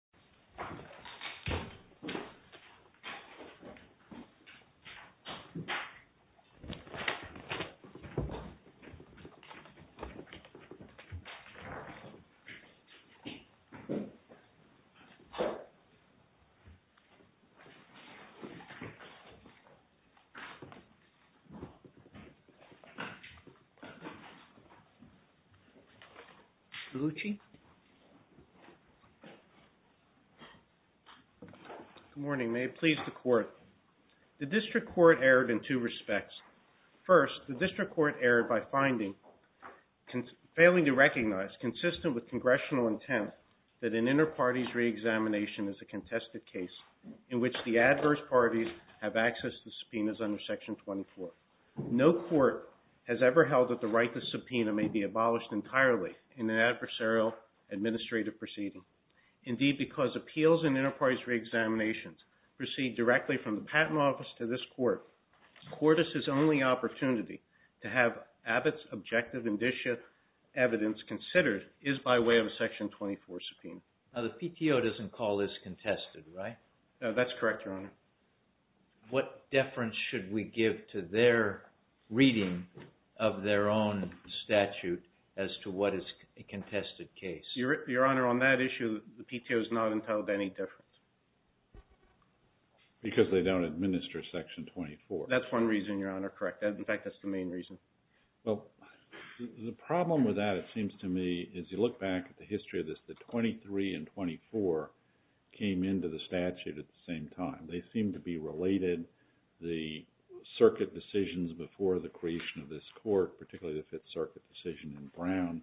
who has few weeks in the oh morning they please support the district court erred in two respects first the district court erred by finding failing to recognize consistent with congressional intent that an inter-parties re-examination is a contested case in which the adverse parties have access to subpoenas under section twenty four no court has ever held that the right to subpoena may be abolished entirely in an adversarial administrative proceeding indeed because appeals and inter-parties re-examinations proceed directly from the patent office to this court the court is his only opportunity to have Abbott's objective indicia evidence considered is by way of a section twenty four subpoena now the PTO doesn't call this contested right? that's correct your honor what deference should we give to their reading of their own statute as to what is a contested case? your honor on that issue the PTO has not because they don't administer section twenty four that's one reason your honor correct in fact that's the main reason the problem with that it seems to me as you look back at the history of this twenty three and twenty four came into the statute at the same time they seem to be related the circuit decisions before the creation of this court particularly the fifth circuit decision in brown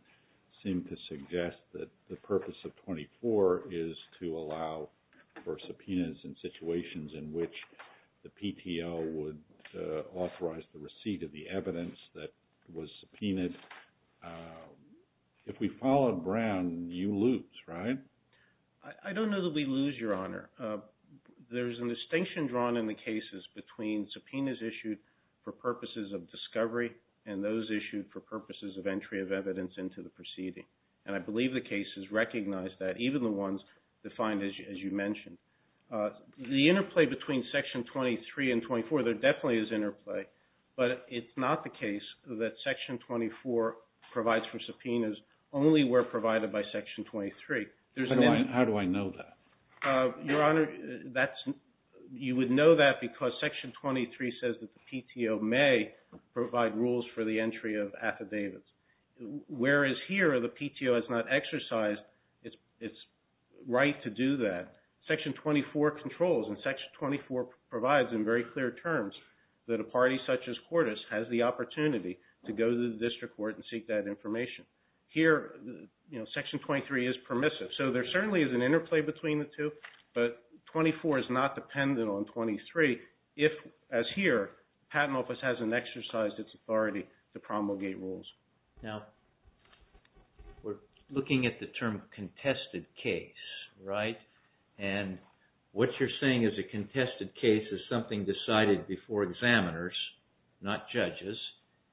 seem to suggest that the purpose of twenty four is to allow for subpoenas in situations in which the PTO would authorize the receipt of the evidence that was subpoenaed if we follow brown you lose right? I don't know that we lose your honor there's a distinction drawn in the cases between subpoenas issued for purposes of discovery and those issued for purposes of entry of evidence into the proceeding and I believe the cases recognize that even the ones defined as you mentioned uh... the interplay between section twenty three and twenty four there definitely is interplay but it's not the case that section twenty four provides for subpoenas only where provided by section twenty three how do I know that? uh... your honor that's you would know that because section twenty three says that the PTO may provide rules for the entry of affidavits whereas here the PTO has not exercised its right to do that section twenty four controls and section twenty four provides in very clear terms that a party such as Quartus has the opportunity to go to the district court and seek that information here you know section twenty three is permissive so there certainly is an interplay between the two but twenty four is not dependent on twenty three as here patent office hasn't exercised its authority to promulgate rules we're looking at the term contested case what you're saying is a contested case is something decided before examiners not judges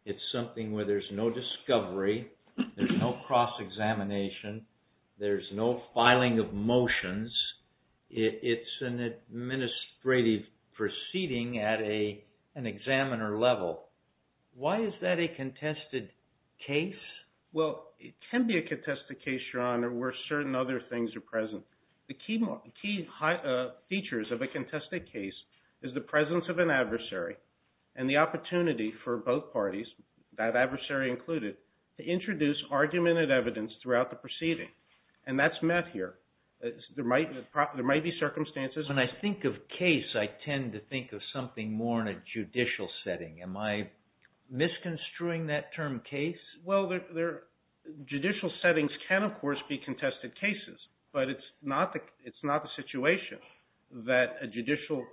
it's something where there's no discovery there's no cross-examination there's no filing of motions it's an administrative proceeding at a an examiner level why is that a contested case? well it can be a contested case your honor where certain other things are present the key features of a contested case is the presence of an adversary and the opportunity for both parties that adversary included to introduce argument and evidence throughout the proceeding and that's met here there might be circumstances when I think of case I tend to think of something more in a judicial setting am I misconstruing that term case? judicial settings can of course be contested cases but it's not the situation that a judicial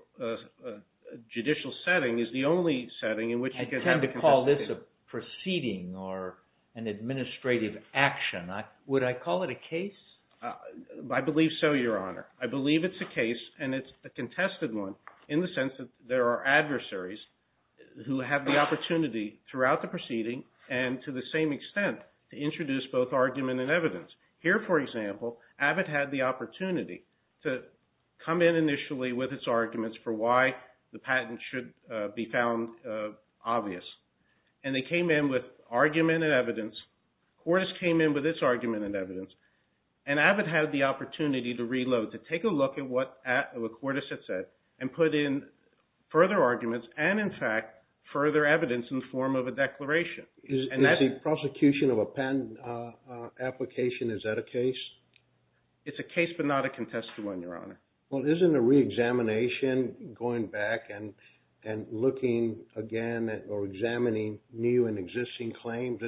judicial setting is the only setting in which you can have a contested case I tend to call this a proceeding or an administrative action would I call it a case? I believe so your honor I believe it's a case and it's a contested one in the sense that there are adversaries who have the opportunity throughout the proceeding and to the same extent to introduce both argument and evidence here for example Abbott had the opportunity to come in initially with its arguments for why the patent should be found obvious and they came in with argument and evidence Cordes came in with its argument and evidence and Abbott had the opportunity to reload to take a look at what Cordes had said and put in further arguments and in fact further evidence in the form of a declaration is the prosecution of a patent application is that a case? it's a case but not a contested one your honor well isn't a re-examination going back and and looking again or examining new and existing claims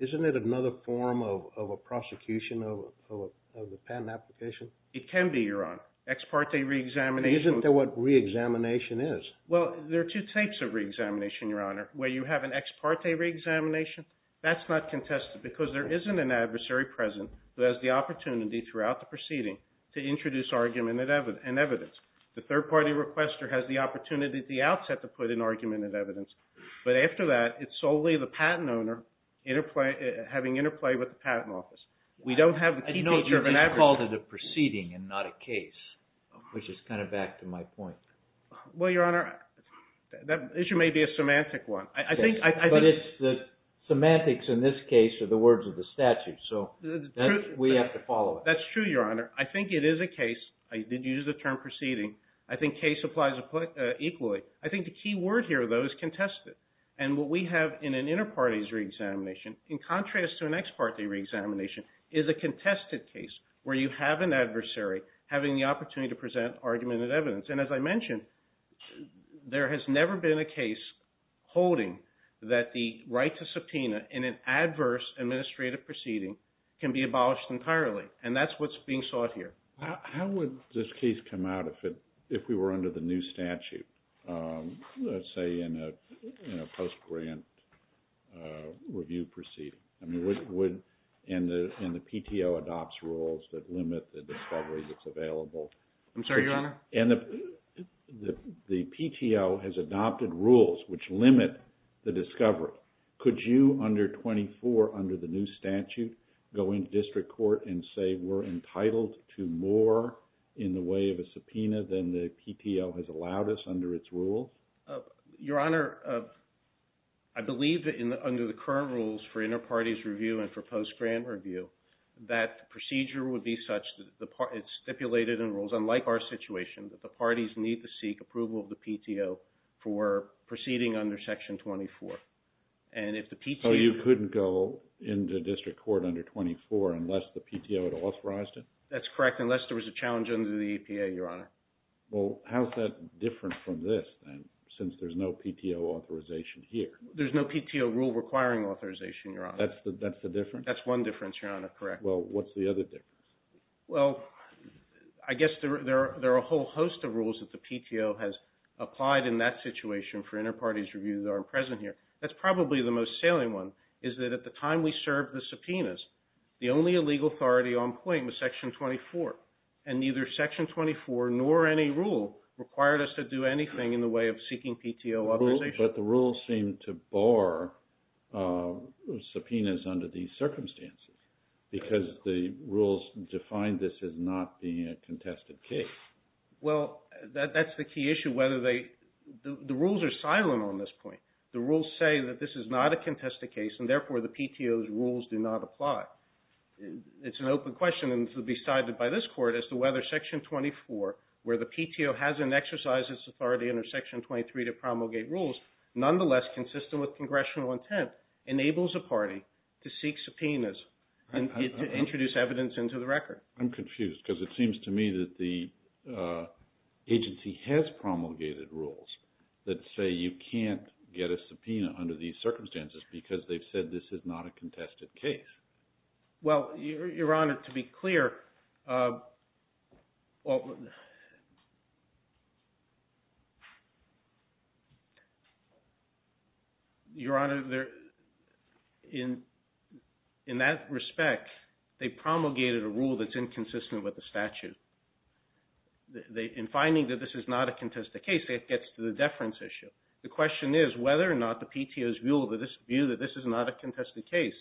isn't it another form of a prosecution of a patent application? it can be your honor ex parte re-examination isn't that what re-examination is? well there are two types of re-examination your honor where you have an ex parte re-examination that's not contested because there isn't an adversary present who has the opportunity throughout the proceeding to introduce argument and evidence but after that it's solely the patent owner having interplay with the patent office we don't have the key picture of an adversary I know that you've called it a proceeding and not a case which is kind of back to my point well your honor that issue may be a semantic one but it's the semantics in this case are the words of the statute so we have to follow it that's true your honor I think it is a case I did use the term proceeding I think case applies equally I think the key word here though is contested and what we have in an inter partes re-examination in contrast to an ex parte re-examination is a contested case where you have an adversary having the opportunity to present argument and evidence and as I mentioned there has never been a case holding that the right to subpoena in an adverse administrative proceeding can be abolished entirely and that's what's being sought here how would this case come out if we were under the new statute let's say in a post-grant review proceeding and the PTO adopts rules that limit the discovery that's available I'm sorry your honor and the PTO has adopted rules which limit the discovery could you under 24 under the new statute go into district court and say we're entitled to more in the way of a subpoena than the PTO has allowed us under its rule your honor I believe under the current rules for inter partes review and for post-grant review that procedure would be such it's stipulated in rules unlike our situation that the parties need to seek approval of the PTO for proceeding under section 24 so you couldn't go into district court under 24 unless the PTO had authorized it that's correct unless there was a challenge under the EPA your honor well how's that different from this then since there's no PTO authorization here there's no PTO rule requiring authorization your honor that's the difference that's one difference your honor correct well what's the other difference well I guess there are a whole host of rules that the PTO has applied in that situation for inter partes reviews that are present here that's probably the most salient one is that at the time we served the subpoenas the only legal authority on point was section 24 and neither section 24 nor any rule required us to do anything in the way of seeking PTO authorization but the rules seem to bar subpoenas under these circumstances because the rules define this as not being a contested case well that's the key issue whether they the rules are silent on this point the rules say that this is not a contested case and therefore the PTO's rules do not apply it's an open question to be decided by this court as to whether section 24 where the PTO hasn't exercised its authority under section 23 to promulgate rules nonetheless consistent with congressional intent enables a party to seek subpoenas and introduce evidence into the record I'm confused because it seems to me that the agency has promulgated rules that say you can't get a subpoena under these circumstances because they've said this is not a contested case well your honor to be clear well your honor in that respect they promulgated a rule that's inconsistent with the statute in finding that this is not a contested case it gets to the deference issue the question is whether or not the PTO's view that this is not a contested case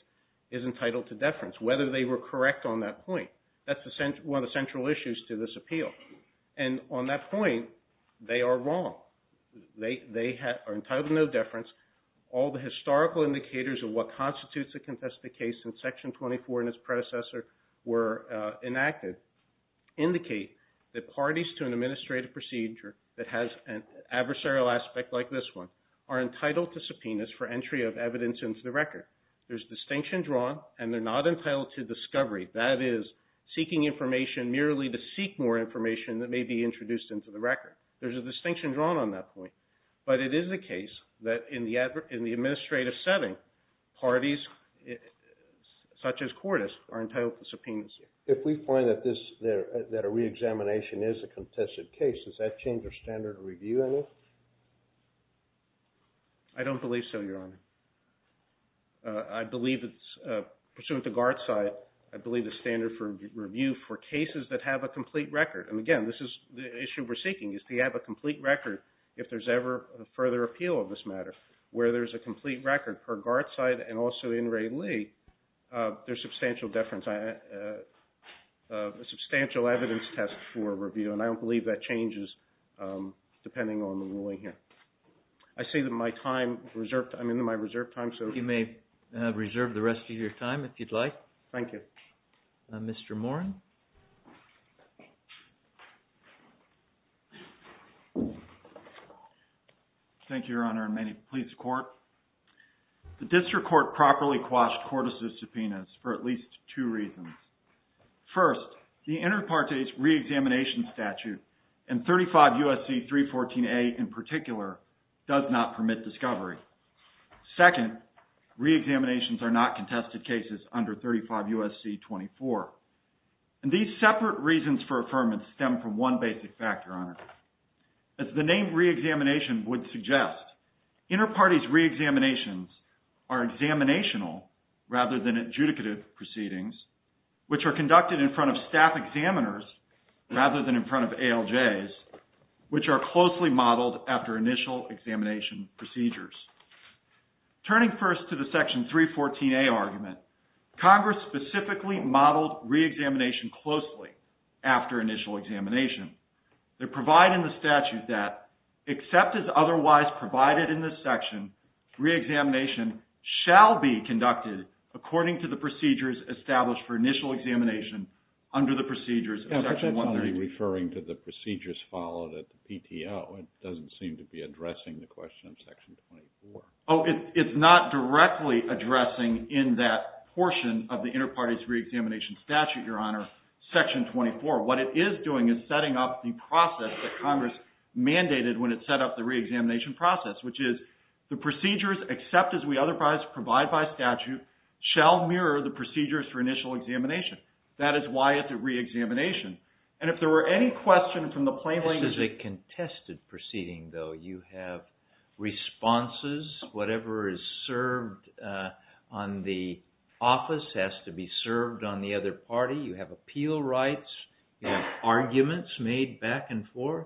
is entitled to deference whether they were correct on that point that's one of the central issues to this appeal and on that point they are wrong they are entitled to no deference all the historical indicators of what constitutes a contested case in section 24 and its predecessor were enacted indicate that parties to an administrative procedure that has an adversarial aspect like this one are entitled to subpoenas for entry of evidence into the record there's distinction drawn and they're not entitled to discovery that is seeking information merely to seek more information that may be introduced into the record there's a distinction drawn on that point but it is the case that in the administrative setting parties such as courtists are entitled to subpoenas if we find that a re-examination is a contested case does that change our standard of review at all? I don't believe so, your honor I believe that pursuant to Garzai I believe the standard for review for cases that have a complete record and again, this is the issue we're seeking is to have a complete record if there's ever a further appeal of this matter where there's a complete record per Garzai and also in Ray Lee there's substantial deference substantial evidence test for review and I don't believe that changes depending on the ruling here I say that my time I'm in my reserved time so You may reserve the rest of your time if you'd like Thank you Mr. Morin Thank you, your honor and may it please the court The district court properly quashed courtists' subpoenas for at least two reasons First, the inter partes re-examination statute and 35 U.S.C. 314A in particular does not permit discovery Second, re-examinations are not contested cases under 35 U.S.C. 24 and these separate reasons for affirmance stem from one basic factor, your honor as the name re-examination would suggest inter partes re-examinations are examinational rather than adjudicative proceedings which are conducted in front of staff examiners rather than in front of ALJs which are closely modeled after initial examination procedures Turning first to the section 314A argument Congress specifically modeled re-examination closely after initial examination They provide in the statute that except as otherwise provided in this section re-examination shall be conducted according to the procedures established for initial examination under the procedures of section 132 referring to the procedures followed at the PTO it doesn't seem to be addressing the question of section 24 Oh, it's not directly addressing in that portion of the inter partes re-examination statute, your honor section 24 What it is doing is setting up the process that Congress mandated when it set up the re-examination process which is the procedures except as we otherwise provide by statute shall mirror the procedures for initial examination that is why it's a re-examination and if there were any questions from the plain language This is a contested proceeding though you have responses whatever is served on the office has to be served on the other party you have appeal rights you have arguments made back and forth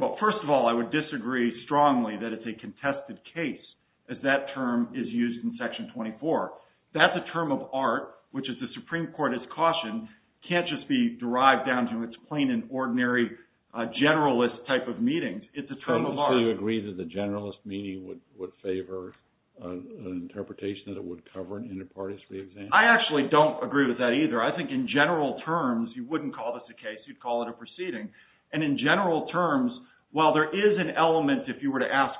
Well, first of all, I would disagree strongly that it's a contested case as that term is used in section 24 that's a term of art which is the Supreme Court's caution can't just be derived down to it's plain and ordinary generalist type of meeting So you agree that the generalist meeting would favor an interpretation that it would cover an inter partes re-examination I actually don't agree with that either I think in general terms you wouldn't call this a case you'd call it a proceeding and in general terms while there is an element if you were to ask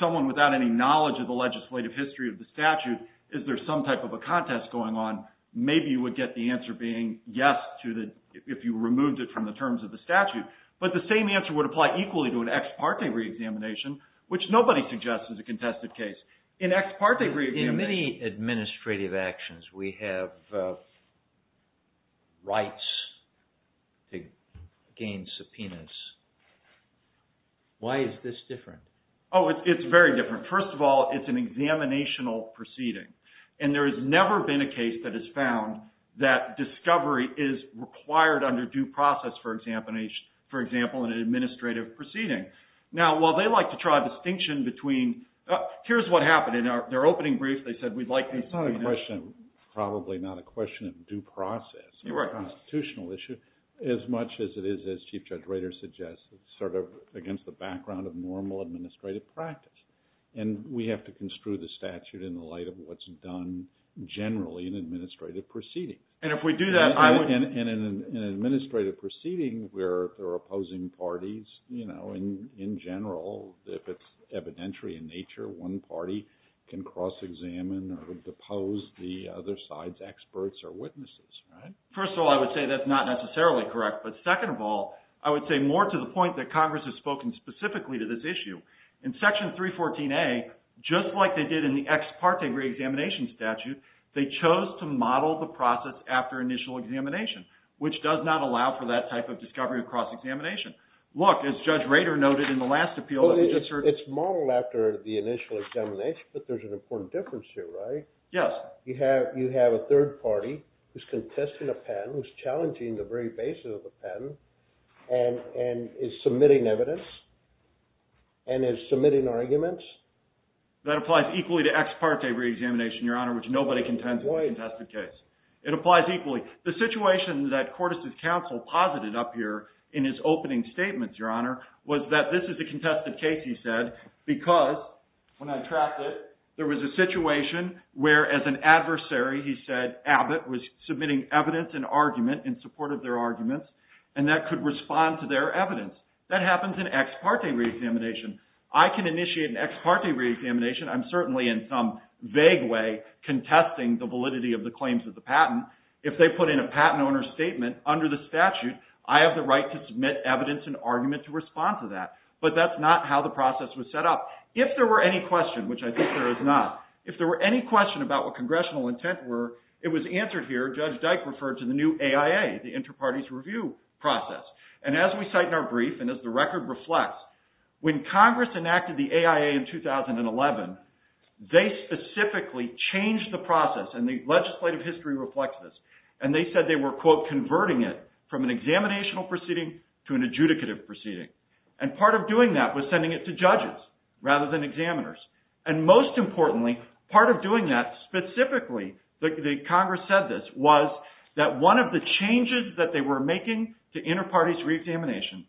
someone without any knowledge of the legislative history of the statute is there some type of a contest going on maybe you would get the answer being yes to the if you removed it from the terms of the statute but the same answer would apply equally to an ex parte re-examination which nobody suggests is a contested case in ex parte re-examination In many administrative actions we have rights to gain subpoenas Why is this different? Oh it's very different First of all it's an examinational proceeding and there has never been a case that has found that discovery is required under due process for example in an administrative proceeding Now while they like to try a distinction between here's what happened in their opening brief they said It's not a question probably not a question of due process constitutional issue as much as it is as Chief Judge Rader suggested sort of against the background of normal administrative practice and we have to construe the statute in the light of what's done generally in an administrative proceeding And if we do that I would In an administrative proceeding where there are opposing parties you know in general if it's evidentiary in nature one party can cross examine or depose the other side's experts or witnesses First of all I would say that's not necessarily correct but second of all I would say more to the point that Congress has spoken specifically to this issue In section 314A just like they did in the ex parte examination statute they chose to model the process after initial examination which does not allow for that type of discovery of cross examination Look as Judge Rader noted in the last appeal It's modeled after the initial examination but there's an important difference here right? You have a third party who's contesting a patent who's challenging the very basis of the patent and is submitting evidence and is submitting arguments That applies equally to ex parte re-examination Your Honor which nobody contends with in the contested case. It applies equally The situation that Cordes' counsel posited up here in his opening statements Your Honor was that this is a contested case he said because when I tracked it there was a situation where as an adversary he said Abbott was submitting evidence and argument in support of their arguments and that could respond to their evidence That happens in ex parte re-examination I can initiate an ex parte re-examination I'm certainly in some vague way contesting the validity of the claims of the patent if they put in a patent owner's statement under the statute I have the right to submit evidence and argument to respond to that but that's not how the process was set up If there were any question, which I think there is not If there were any question about what congressional intent were, it was answered here. Judge Dyke referred to the new AIA the inter-parties review process and as we cite in our brief and as the record reflects, when Congress enacted the AIA in 2011 they specifically changed the process and the legislative history reflects this and they said they were quote converting it from an examinational proceeding to an adjudicative proceeding and part of doing that was sending it to judges rather than examiners and most importantly, part of doing that specifically, the Congress said this, was that one of the changes that they were making to inter-parties re-examination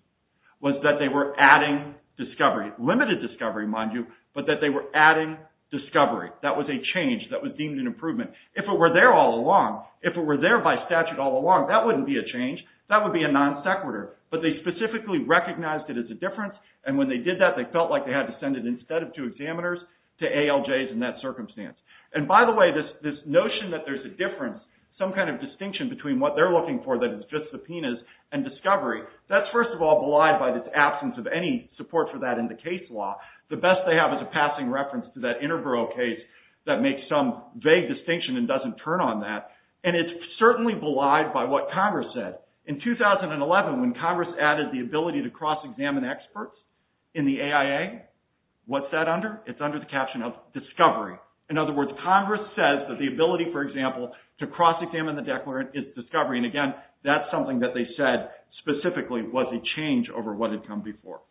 was that they were adding discovery limited discovery, mind you, but that they were adding discovery. That was a change that was deemed an improvement If it were there all along, if it were there by statute all along, that wouldn't be a change That would be a non sequitur, but they specifically recognized it as a difference and when they did that, they felt like they had to send it instead of to examiners, to ALJs in that circumstance. And by the way this notion that there's a difference some kind of distinction between what they're looking for that is just subpoenas and discovery that's first of all belied by this absence of any support for that in the case law. The best they have is a passing reference to that Interborough case that makes some vague distinction and doesn't turn on that and it's certainly belied by what Congress said In 2011 when Congress added the ability to cross-examine experts in the AIA what's that under? It's under the caption of discovery. In other words, Congress says that the ability, for example, to cross-examine the declarant is discovery and again, that's something that they said specifically was a change over what had come before.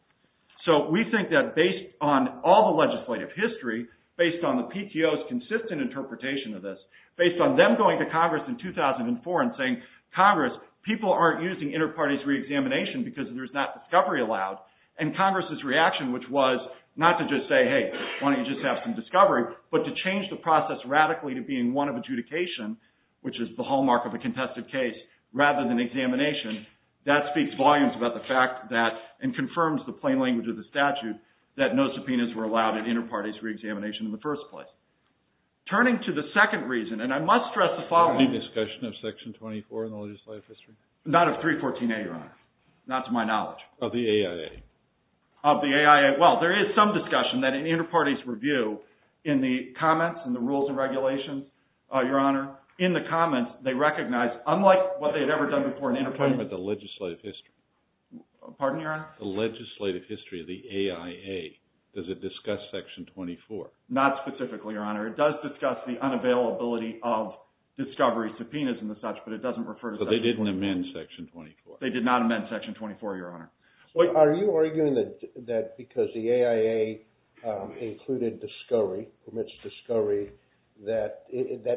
So, we think that based on all the legislative history, based on the PTO's consistent interpretation of this based on them going to Congress in 2004 and saying, Congress, people aren't using inter-parties re-examination because there's not discovery allowed. And Congress's reaction, which was not to just say, hey, why don't you just have some discovery but to change the process radically to being one of adjudication, which is the hallmark of a contested case rather than examination, that speaks volumes about the fact that and confirms the plain language of the statute that no subpoenas were allowed at inter-parties re-examination in the first place. Turning to the second reason, and I must stress the following. Any discussion of Section 24 in the legislative history? Not of 314A, Your Honor. Not to my knowledge. Of the AIA? Of the AIA, well, there is some discussion that in inter-parties review, in the comments, in the rules and regulations, Your Honor, in the comments they recognize, unlike what they had ever done before in inter-parties. I'm talking about the legislative history. Pardon, Your Honor? The legislative history of the AIA. Does it discuss Section 24? Not specifically, Your Honor. It does discuss the unavailability of discovery subpoenas and the such, but it doesn't refer to Section 24. But they didn't amend Section 24? They did not amend Section 24, Your Honor. Are you arguing that because the AIA included discovery, permits discovery, that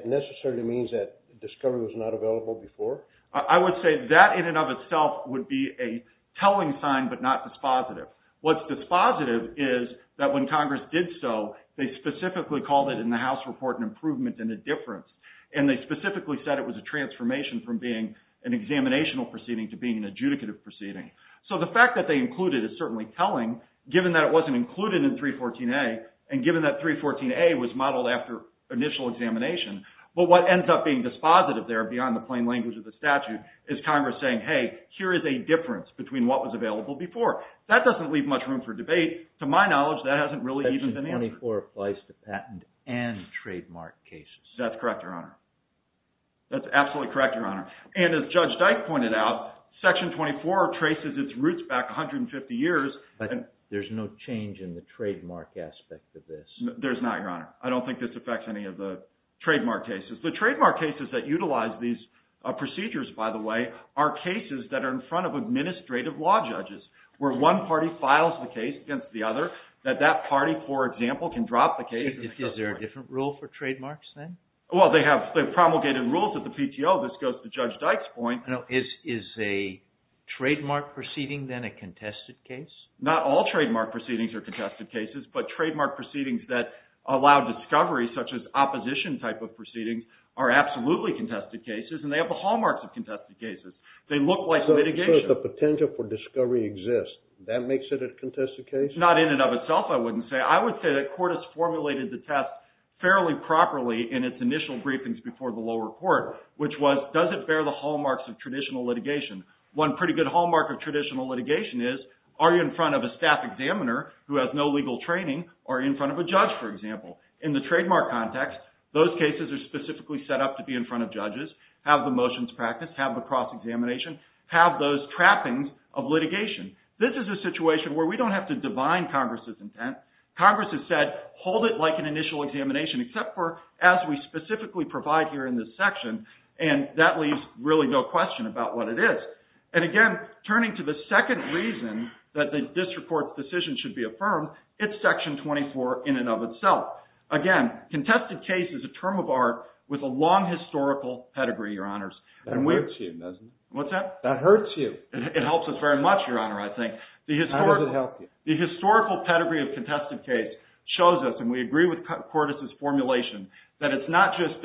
necessarily means that discovery was not available before? I would say that in and of itself would be a telling sign, but not dispositive. What's dispositive is that when Congress did so, they specifically called it in the House report an improvement and a difference, and they specifically said it was a transformation from being an examinational proceeding to being an adjudicative proceeding. So the fact that they included is certainly telling, given that it wasn't included in 314A and given that 314A was modeled after initial examination, but what ends up being dispositive there beyond the plain language of the statute is Congress saying, hey, here is a difference between what was available before. That doesn't leave much room for debate. To my knowledge, that hasn't really even been answered. Section 24 applies to patent and trademark cases. That's correct, Your Honor. That's absolutely correct, Your Honor. And as Judge Dyke pointed out, Section 24 traces its roots back 150 years. But there's no change in the trademark aspect of this. There's not, Your Honor. I don't think this affects any of the trademark cases. The trademark cases that utilize these procedures, by the way, are cases that are in front of administrative law judges, where one party files the case against the other, that that party, for example, can drop the case Is there a different rule for trademarks then? Well, they have promulgated rules at the PTO. This goes to Judge Dyke's point. Is a trademark proceeding then a contested case? Not all trademark proceedings are contested cases, but trademark proceedings that allow discovery such as opposition type of proceedings are absolutely contested cases and they have the hallmarks of contested cases. They look like litigation. So the potential for discovery exists. That makes it a contested case? Not in and of itself I wouldn't say. I would say the Court has formulated the test fairly properly in its initial briefings before the lower court, which was, does it bear the hallmarks of traditional litigation? One pretty good hallmark of traditional litigation is, are you in front of a staff examiner who has no legal training, or in front of a judge, for example? In the trademark context, those cases are specifically set up to be in front of judges, have the motions practiced, have the cross-examination, have those trappings of litigation. This is a situation where we don't have to divine Congress' intent. Congress has said, hold it like an initial examination, except for as we specifically provide here in this section, and that leaves really no question about what it is. And again, turning to the second reason that this Court's decision should be affirmed, it's Section 24 in and of itself. Again, contested case is a term of art with a long historical pedigree, Your Honors. That hurts you, doesn't it? It helps us very much, Your Honor, I think. The historical pedigree of contested case shows us, and we agree with Cordes' formulation, that it's not just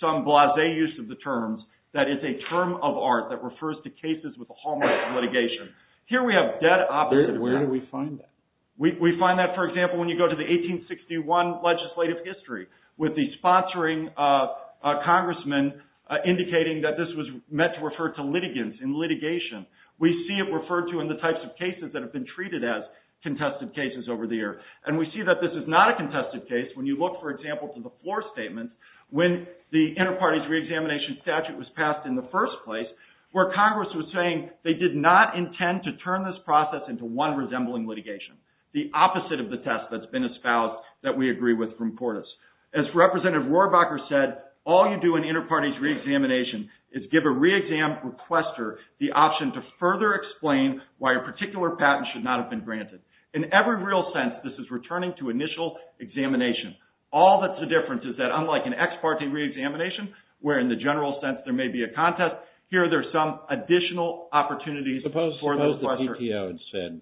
some blasé use of the terms, that it's a term of art that refers to cases with a hallmark of litigation. Here we have dead opposites. Where do we find that? We find that, for example, when you go to the 1861 legislative history, with the sponsoring of a congressman indicating that this was meant to refer to litigants in litigation, we see it referred to in the types of cases that have been treated as contested cases over the years. And we see that this is not a contested case when you look, for example, to the floor statements when the Interparties Reexamination Statute was passed in the first place, where Congress was saying they did not intend to turn this process into one resembling litigation, the opposite of the test that's been espoused that we agree with from Portis. As Representative Rohrabacher said, all you do in Interparties Reexamination is give a reexam requester the option to further explain why a particular patent should not have been granted. In every real sense, this is returning to initial examination. All that's the difference is that unlike an ex parte reexamination, where in the general sense there may be a contest, here there's some additional opportunities for the requester. Suppose the PTO had said,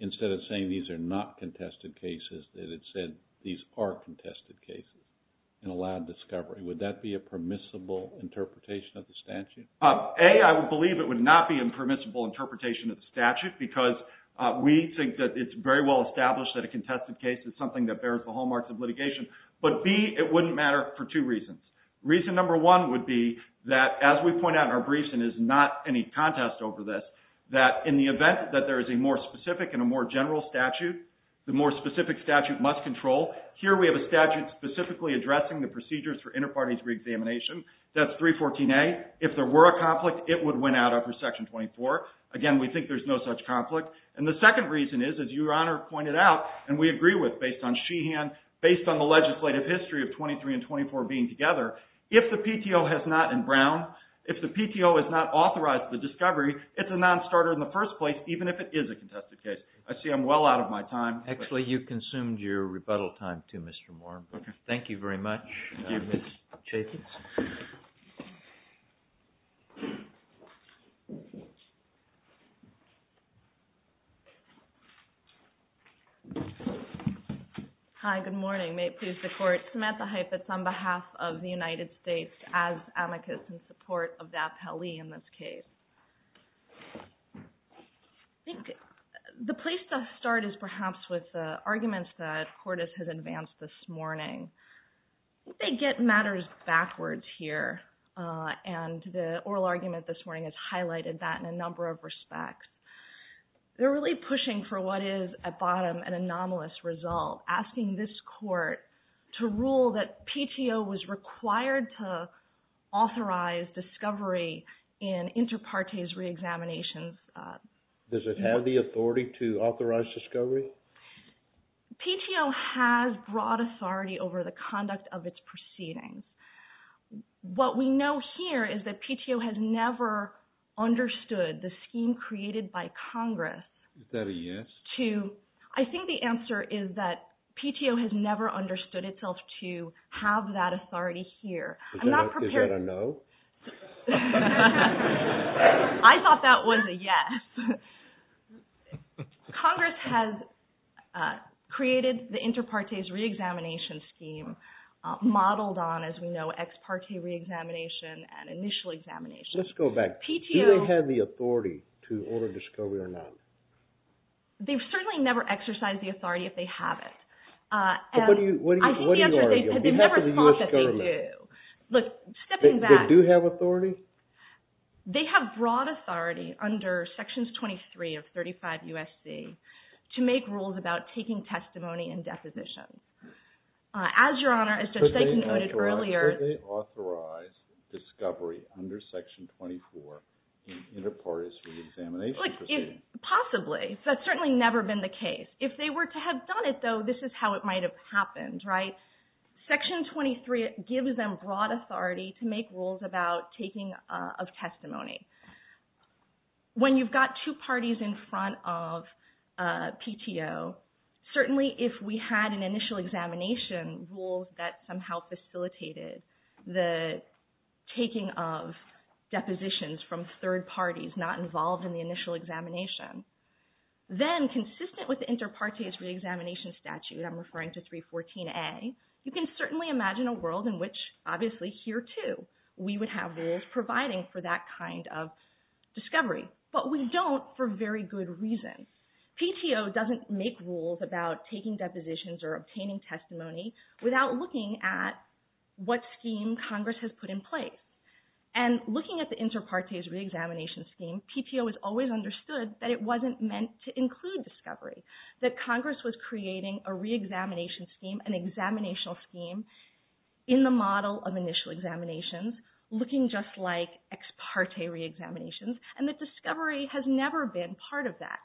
instead of saying these are not contested cases, that it said these are contested cases and allowed discovery. Would that be a permissible interpretation of the statute? A, I would believe it would not be a permissible interpretation of the statute because we think that it's very well established that a contested case is something that bears the hallmarks of litigation, but B, it wouldn't matter for two reasons. Reason number one would be that as we point out in our briefs, and there's not any contest over this, that in the event that there is a more specific and a more specific statute must control, here we have a statute specifically addressing the procedures for inter partes reexamination. That's 314A. If there were a conflict, it would win out after section 24. Again, we think there's no such conflict. And the second reason is, as Your Honor pointed out, and we agree with based on Sheehan, based on the legislative history of 23 and 24 being together, if the PTO has not in Brown, if the PTO has not authorized the discovery, it's a non-starter in the first place, even if it is a contested case. I see I'm well out of my time. Actually, you've consumed your rebuttal time too, Mr. Moore. Thank you very much. Thank you, Mr. Chaffetz. Hi, good morning. May it please the Court, Samantha Chaffetz on behalf of the United States as amicus in support of that pele in this case. I think the place to start is perhaps with the arguments that Cordes has advanced this morning. They get matters backwards here, and the oral argument this morning has highlighted that in a number of respects. They're really pushing for what is, at bottom, an anomalous result, asking this court to rule that PTO was required to authorize discovery in inter partes re-examinations. Does it have the authority to authorize discovery? PTO has broad authority over the conduct of its proceedings. What we know here is that PTO has never understood the scheme created by Congress. Is that a yes? I think the answer is that PTO has never understood itself to have that authority here. Is that a no? I thought that was a yes. Congress has created the inter partes re-examination scheme, modeled on, as we know, ex parte re-examination and initial examination. Let's go back. Do they have the authority to order discovery or not? They've certainly never exercised the authority if they have it. What do you argue? On behalf of the U.S. government. They do have authority? They have broad authority under Sections 23 of 35 U.S.C. to make rules about taking testimony and depositions. As your Honor, as Judge Sagan noted earlier... Could they authorize discovery under Section 24 in inter partes re-examination proceedings? Possibly. That's certainly never been the case. If they were to have done it, though, this is how it might have happened, right? Section 23 gives them broad authority to make rules about taking of testimony. When you've got two parties in front of PTO, certainly if we had an initial examination rule that somehow facilitated the taking of depositions from third parties not involved in the initial examination, then consistent with the inter partes re-examination statute, I'm referring to 314A, you can certainly imagine a world in which obviously here, too, we would have rules providing for that kind of discovery. But we don't for very good reasons. PTO doesn't make rules about taking depositions or obtaining testimony without looking at what scheme Congress has put in place. And looking at the inter partes re-examination scheme, PTO has always understood that it wasn't meant to include discovery. That Congress was creating a re-examination scheme, an examinational scheme, in the model of initial examinations, looking just like ex parte re-examinations, and that discovery has never been part of that.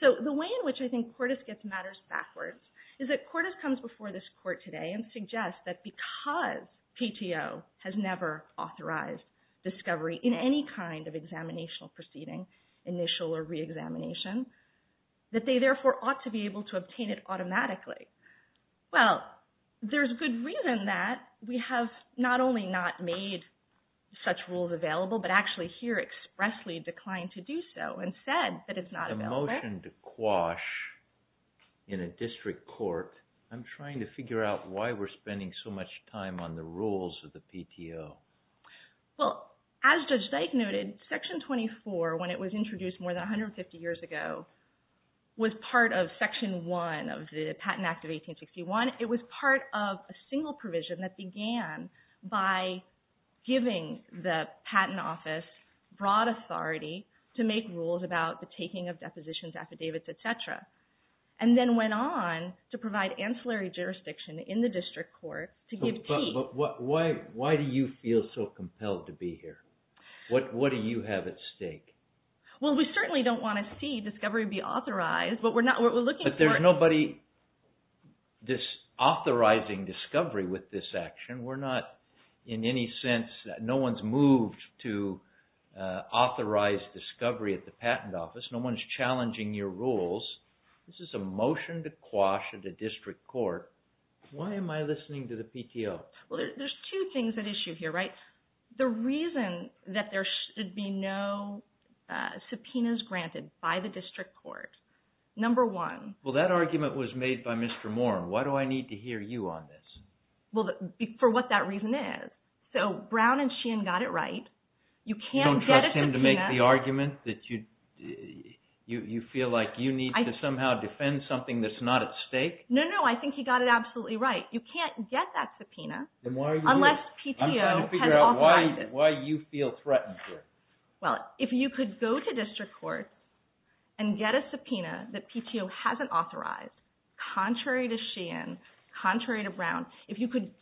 So the way in which I think Cordes gets matters backwards is that Cordes comes before this court today and suggests that because PTO has never authorized discovery in any kind of examinational proceeding, initial or re-examination, that they therefore ought to be able to obtain it automatically. Well, there's good reason that we have not only not made such rules available, but actually here expressly declined to do so and said that it's not available. The motion to quash in a district court, I'm trying to figure out why we're spending so much time on the rules of the PTO. Well, as Judge Dyke noted, Section 24, when it was introduced more than 150 years ago, was part of Section 1 of the Patent Act of 1861. It was part of a single provision that began by giving the Patent Office broad authority to make rules about the taking of depositions, affidavits, etc., and then went on to provide ancillary jurisdiction in the district court to give teeth. But why do you feel so compelled to be here? What do you have at stake? Well, we certainly don't want to see discovery be authorized, but we're looking for... But there's nobody authorizing discovery with this action. We're not in any sense... No one's moved to authorize discovery at the Patent Office. No one's challenging your rules. This is a motion to quash at a district court. Why am I listening to the PTO? Well, there's two things at issue here, right? The reason that there should be no subpoenas granted by the district court, number one... Well, that argument was made by Mr. Moore. Why do I need to hear you on this? Well, for what that reason is. So, Brown and Sheehan got it right. You can't get a subpoena... You don't trust him to make the argument that you feel like you need to somehow defend something that's not at stake? No, no. I think he got it absolutely right. You can't get that subpoena unless PTO has authorized it. I'm trying to figure out why you feel threatened here. Well, if you could go to district court and get a subpoena that PTO hasn't authorized, contrary to Sheehan, contrary to Brown, if you could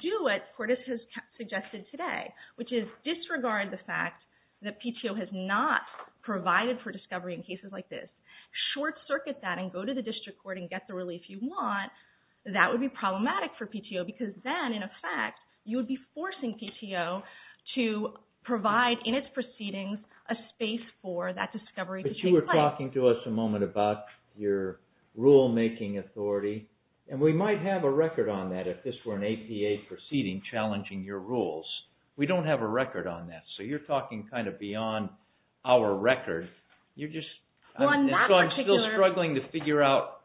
do what Cordes has suggested today, which is disregard the fact that PTO has not provided for discovery in cases like this, short-circuit that and go to the district court and get the relief you want, that would be problematic for PTO because then, in effect, you would be forcing PTO to provide in its proceedings a space for that discovery to take place. But you were talking to us a moment about your rule-making authority and we might have a record on that if this were an APA proceeding challenging your rules. We don't have a record on that, so you're talking kind of beyond our record. You're just... Well, on that particular... I'm still struggling to figure out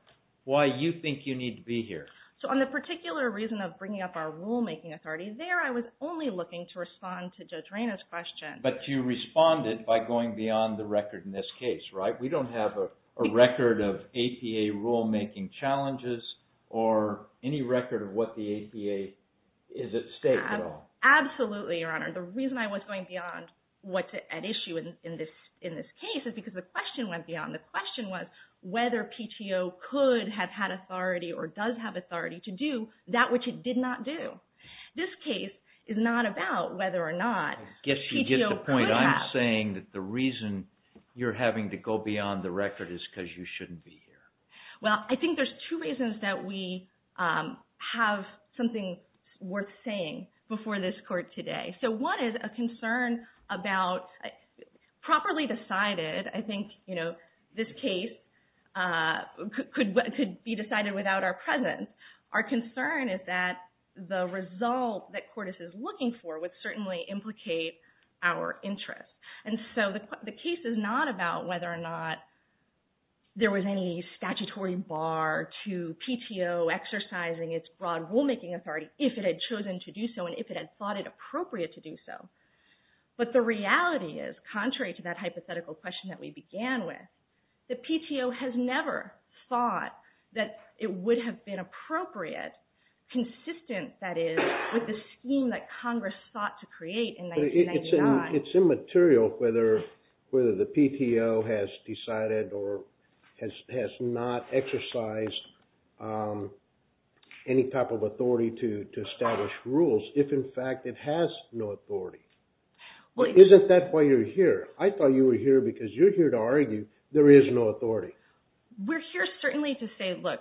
why you think you need to be here. So on the particular reason of bringing up our rule-making authority, there I was only looking to respond to Judge Rayna's question. But you responded by going beyond the record in this case, right? We don't have a record of APA rule-making challenges or any record of what the APA is at stake at all. Absolutely, Your Honor. The reason I was going beyond what at issue in this case is because the question went beyond. The question was whether PTO could have had authority or does have authority to do that which it did not do. This case is not about whether or not PTO could have... I guess you get the point. I'm saying that the reason you're having to go beyond the record is because you shouldn't be here. Well, I think there's two reasons that we have something worth saying before this Court today. So one is a concern about properly decided, I think this case could be decided without our presence. Our concern is that the result that Cordes is looking for would certainly implicate our interest. And so the case is not about whether or not there was any statutory bar to PTO exercising its broad rule-making authority if it had chosen to do so and if it had thought it appropriate to do so. But the reality is, contrary to that hypothetical question that we began with, the PTO has never thought that it would have been appropriate, consistent, that is, with the scheme that Congress thought to create in 1999. But it's immaterial whether the PTO has decided or has not exercised any type of authority to establish rules if in fact it has no authority. Isn't that why you're here? I thought you were here because you're here to argue there is no authority. We're here certainly to say, look,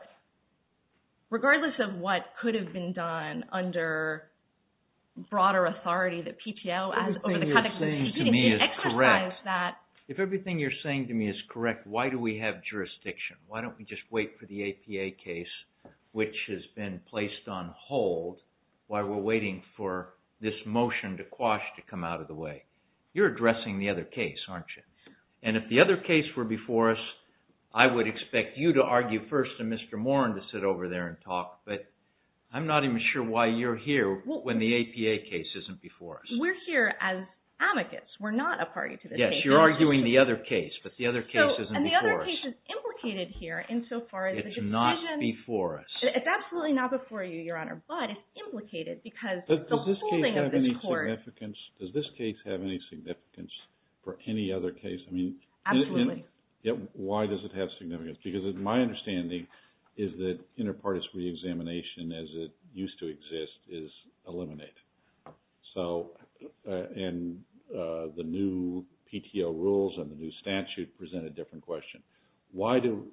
regardless of what could have been done under broader authority that PTO has over the context of the scheme, if it exercised that... If everything you're saying to me is correct, why do we have jurisdiction? Why don't we just wait for the APA case, which has been placed on hold while we're waiting for this motion to quash to come out of the way? You're addressing the other case, aren't you? And if the other case were before us, I would expect you to argue first and Mr. Moran to sit over there and talk, but I'm not even sure why you're here when the APA case isn't before us. We're here as amicus. We're not a party to this case. Yes, you're arguing the other case, but the other case isn't before us. And the other case is implicated here insofar as the decision... It's not before us. It's absolutely not before you, Your Honor, but it's implicated because the holding of this court... Does this case have any significance? Does this case have any significance for any other case? I mean... Absolutely. Why does it have significance? Because my understanding is that inter partes reexamination as it used to exist is eliminated. And the new PTO rules and the new statute present a different question. Why do...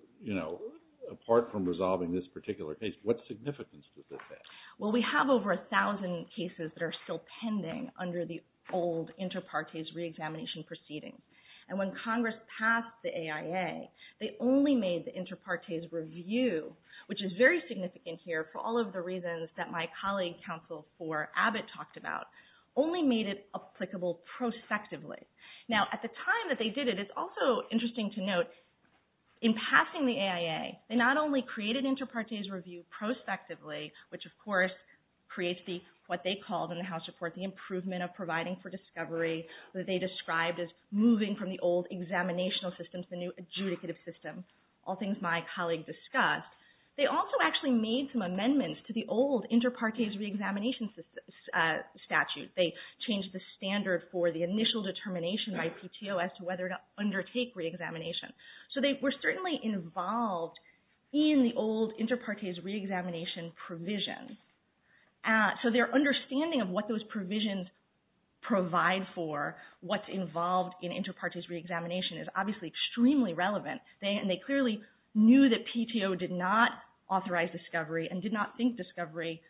Apart from resolving this particular case, what significance does this have? Well, we have over a thousand cases that are still pending under the old inter partes reexamination proceedings. And when Congress passed the AIA, they only made the inter partes review, which is very significant here for all of the reasons that my colleague, Counsel for Abbott talked about, only made it applicable prospectively. Now, at the time that they did it, it's also interesting to note in passing the AIA, they not only created inter partes review prospectively, which of course creates the, what they called in the House report, the improvement of providing for discovery that they described as moving from the old examinational system to the new adjudicative system. All things my colleague discussed. They also actually made some amendments to the old inter partes reexamination statute. They changed the standard for the initial determination by PTO as to whether to undertake reexamination. So they were certainly involved in the old inter partes reexamination provision. So their understanding of what those provisions provide for what's involved in inter partes reexamination is obviously extremely relevant. They clearly knew that PTO did not authorize discovery and did not think discovery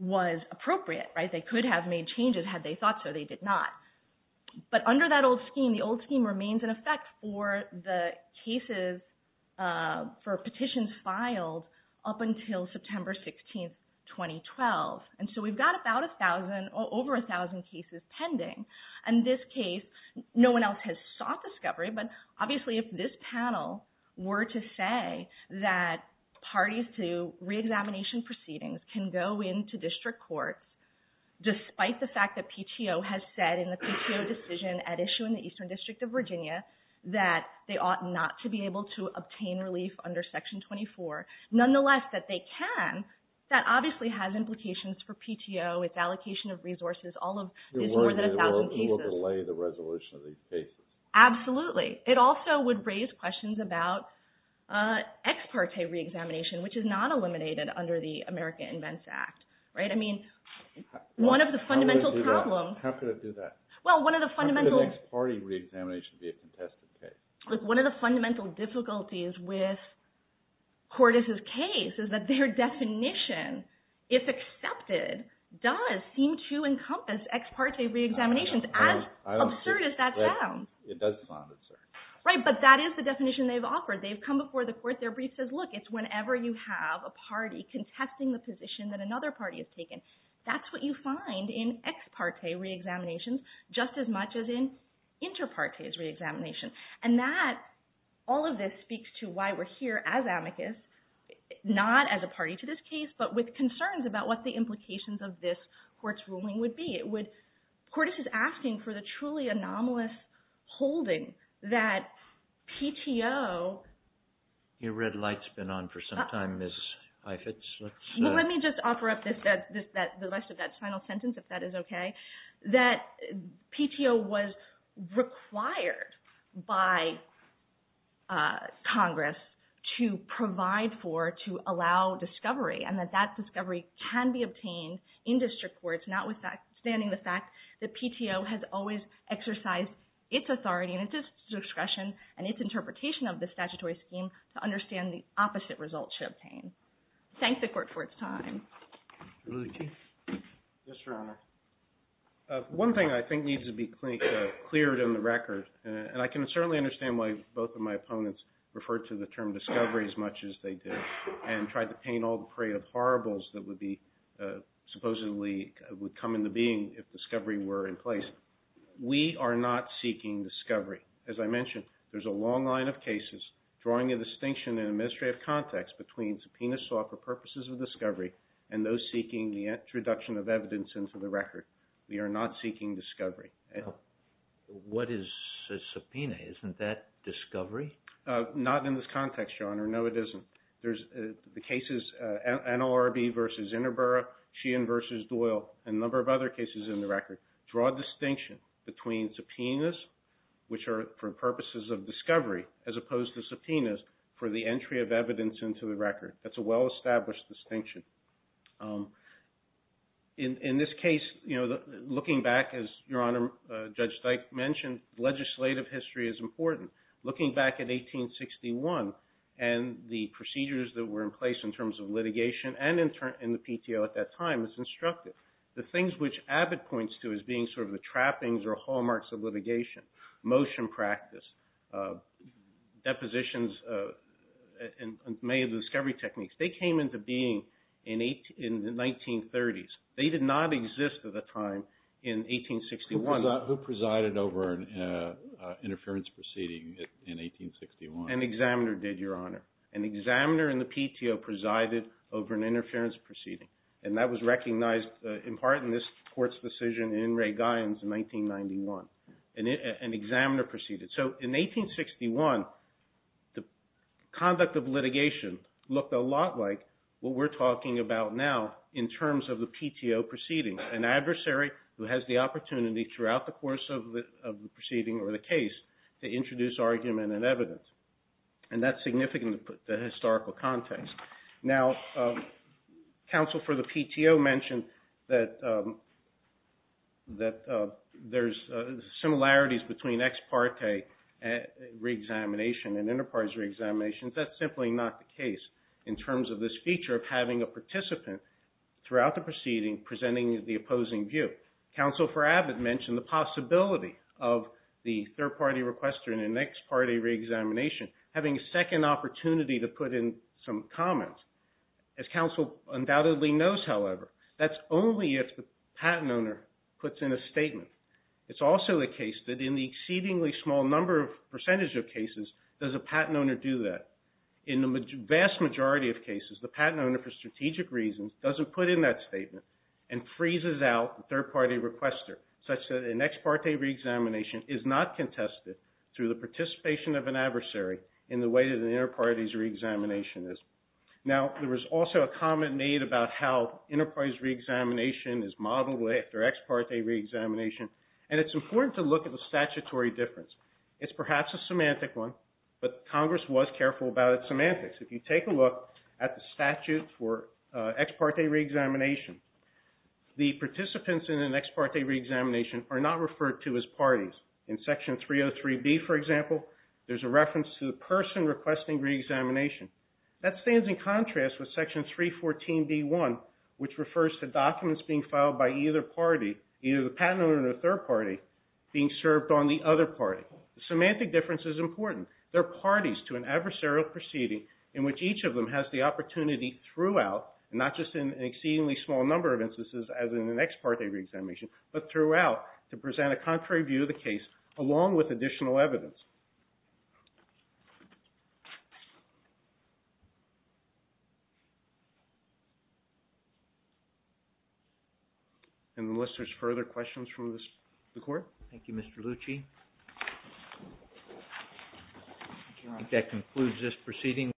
was appropriate. They could have made changes had they thought so. They did not. But under that old scheme, the old scheme remains in effect for the cases for petitions filed up until September 16, 2012. So we've got about a thousand or over a thousand cases pending. In this case, no one else has sought discovery, but obviously if this panel were to say that parties to reexamination proceedings can go into district courts despite the fact that PTO has said in the PTO decision at issue in the Eastern District of Virginia that they ought not to be able to obtain relief under Section 24, nonetheless that they can, that obviously has implications for PTO. Its allocation of resources is more than a thousand cases. It will delay the resolution of these cases. Absolutely. It also would raise questions about ex parte reexamination, which is not eliminated under the American Invents Act. One of the fundamental How could it do that? How could an ex parte reexamination be a contested case? One of the fundamental difficulties with Cordes' case is that their definition, if accepted, does seem to encompass ex parte reexaminations, as absurd as that sounds. It does sound absurd. Right, but that is the definition they've offered. They've come before the court. Their brief says, look, it's whenever you have a party contesting the position that another party has taken. That's what you find in ex parte reexaminations, just as much as in inter partes reexamination. And that, all of this speaks to why we're here as amicus, not as a party to this case, but with concerns about what the implications of this court's ruling would be. It would, Cordes is asking for the truly anomalous holding that PTO Your red light's been on for some time, Ms. Heifetz. Let me just offer up the rest of that final sentence, if that is okay. That PTO was required by Congress to provide for, to allow discovery, and that that discovery can be obtained in district courts, notwithstanding the fact that PTO has always exercised its authority and its discretion and its interpretation of the statutory scheme to understand the opposite results should obtain. Thank the court for its time. Mr. Luthi? Yes, Your Honor. One thing I think needs to be cleared in the record, and I can certainly understand why both of my opponents referred to the term discovery as much as they did, and tried to paint all the parade of horribles that would be, supposedly would come into being if discovery were in place. We are not seeking discovery. As I mentioned, there's a long line of cases drawing a distinction in administrative context between subpoenas sought for purposes of discovery and those seeking the introduction of evidence into the record. We are not seeking discovery. What is a subpoena? Isn't that discovery? Not in this context, Your Honor. No, it isn't. There's the cases NLRB versus Interborough, Sheehan versus Doyle, and a number of other cases in the record draw a distinction between subpoenas, which are for subpoenas for the entry of evidence into the record. That's a well-established distinction. In this case, looking back, as Your Honor, Judge Steich mentioned, legislative history is important. Looking back at 1861 and the procedures that were in place in terms of litigation and in the PTO at that time is instructive. The things which Abbott points to as being the trappings or hallmarks of litigation, motion practice, depositions, and many of the discovery techniques, they came into being in the 1930s. They did not exist at the time in 1861. Who presided over an interference proceeding in 1861? An examiner did, Your Honor. An examiner in the PTO presided over an interference proceeding, and that was recognized in part in this Court's decision in Ray Guyons in 1991. An examiner proceeded. In 1861, the conduct of litigation looked a lot like what we're talking about now in terms of the PTO proceeding. An adversary who has the opportunity throughout the course of the proceeding or the case to introduce argument and evidence. That's significant in the historical context. Now, counsel for the PTO mentioned that there's similarities between ex parte reexamination and enterprise reexaminations. That's simply not the case in terms of this feature of having a participant throughout the proceeding presenting the opposing view. Counsel for Abbott mentioned the possibility of the third-party requester in an ex parte reexamination having a second opportunity to put in some comments. As counsel undoubtedly knows, however, that's only if the patent owner puts in a statement. It's also the case that in the exceedingly small number of percentage of cases, does a patent owner do that? In the vast majority of cases, the patent owner, for strategic reasons, doesn't put in that statement and freezes out the third-party requester, such that an ex parte reexamination is not contested through the participation of an adversary in the way that an enterprise reexamination is. There was also a comment made about how enterprise reexamination is modeled after ex parte reexamination and it's important to look at the statutory difference. It's perhaps a semantic one, but Congress was careful about its semantics. If you take a look at the statute for ex parte reexamination, the participants in an ex parte reexamination are not referred to as parties. In section 303B, for example, there's a reference to the person requesting reexamination. That stands in contrast with section 314B1, which refers to documents being filed by either party, either the patent owner or the third party, being served on the other party. The semantic difference is important. They're parties to an adversarial proceeding in which each of them has the opportunity throughout, and not just in an exceedingly small number of instances as in an ex parte reexamination, but throughout, to present a contrary view of the case along with additional evidence. Thank you. Unless there's further questions from the Court? Thank you, Mr. Lucci. I think that concludes this proceeding.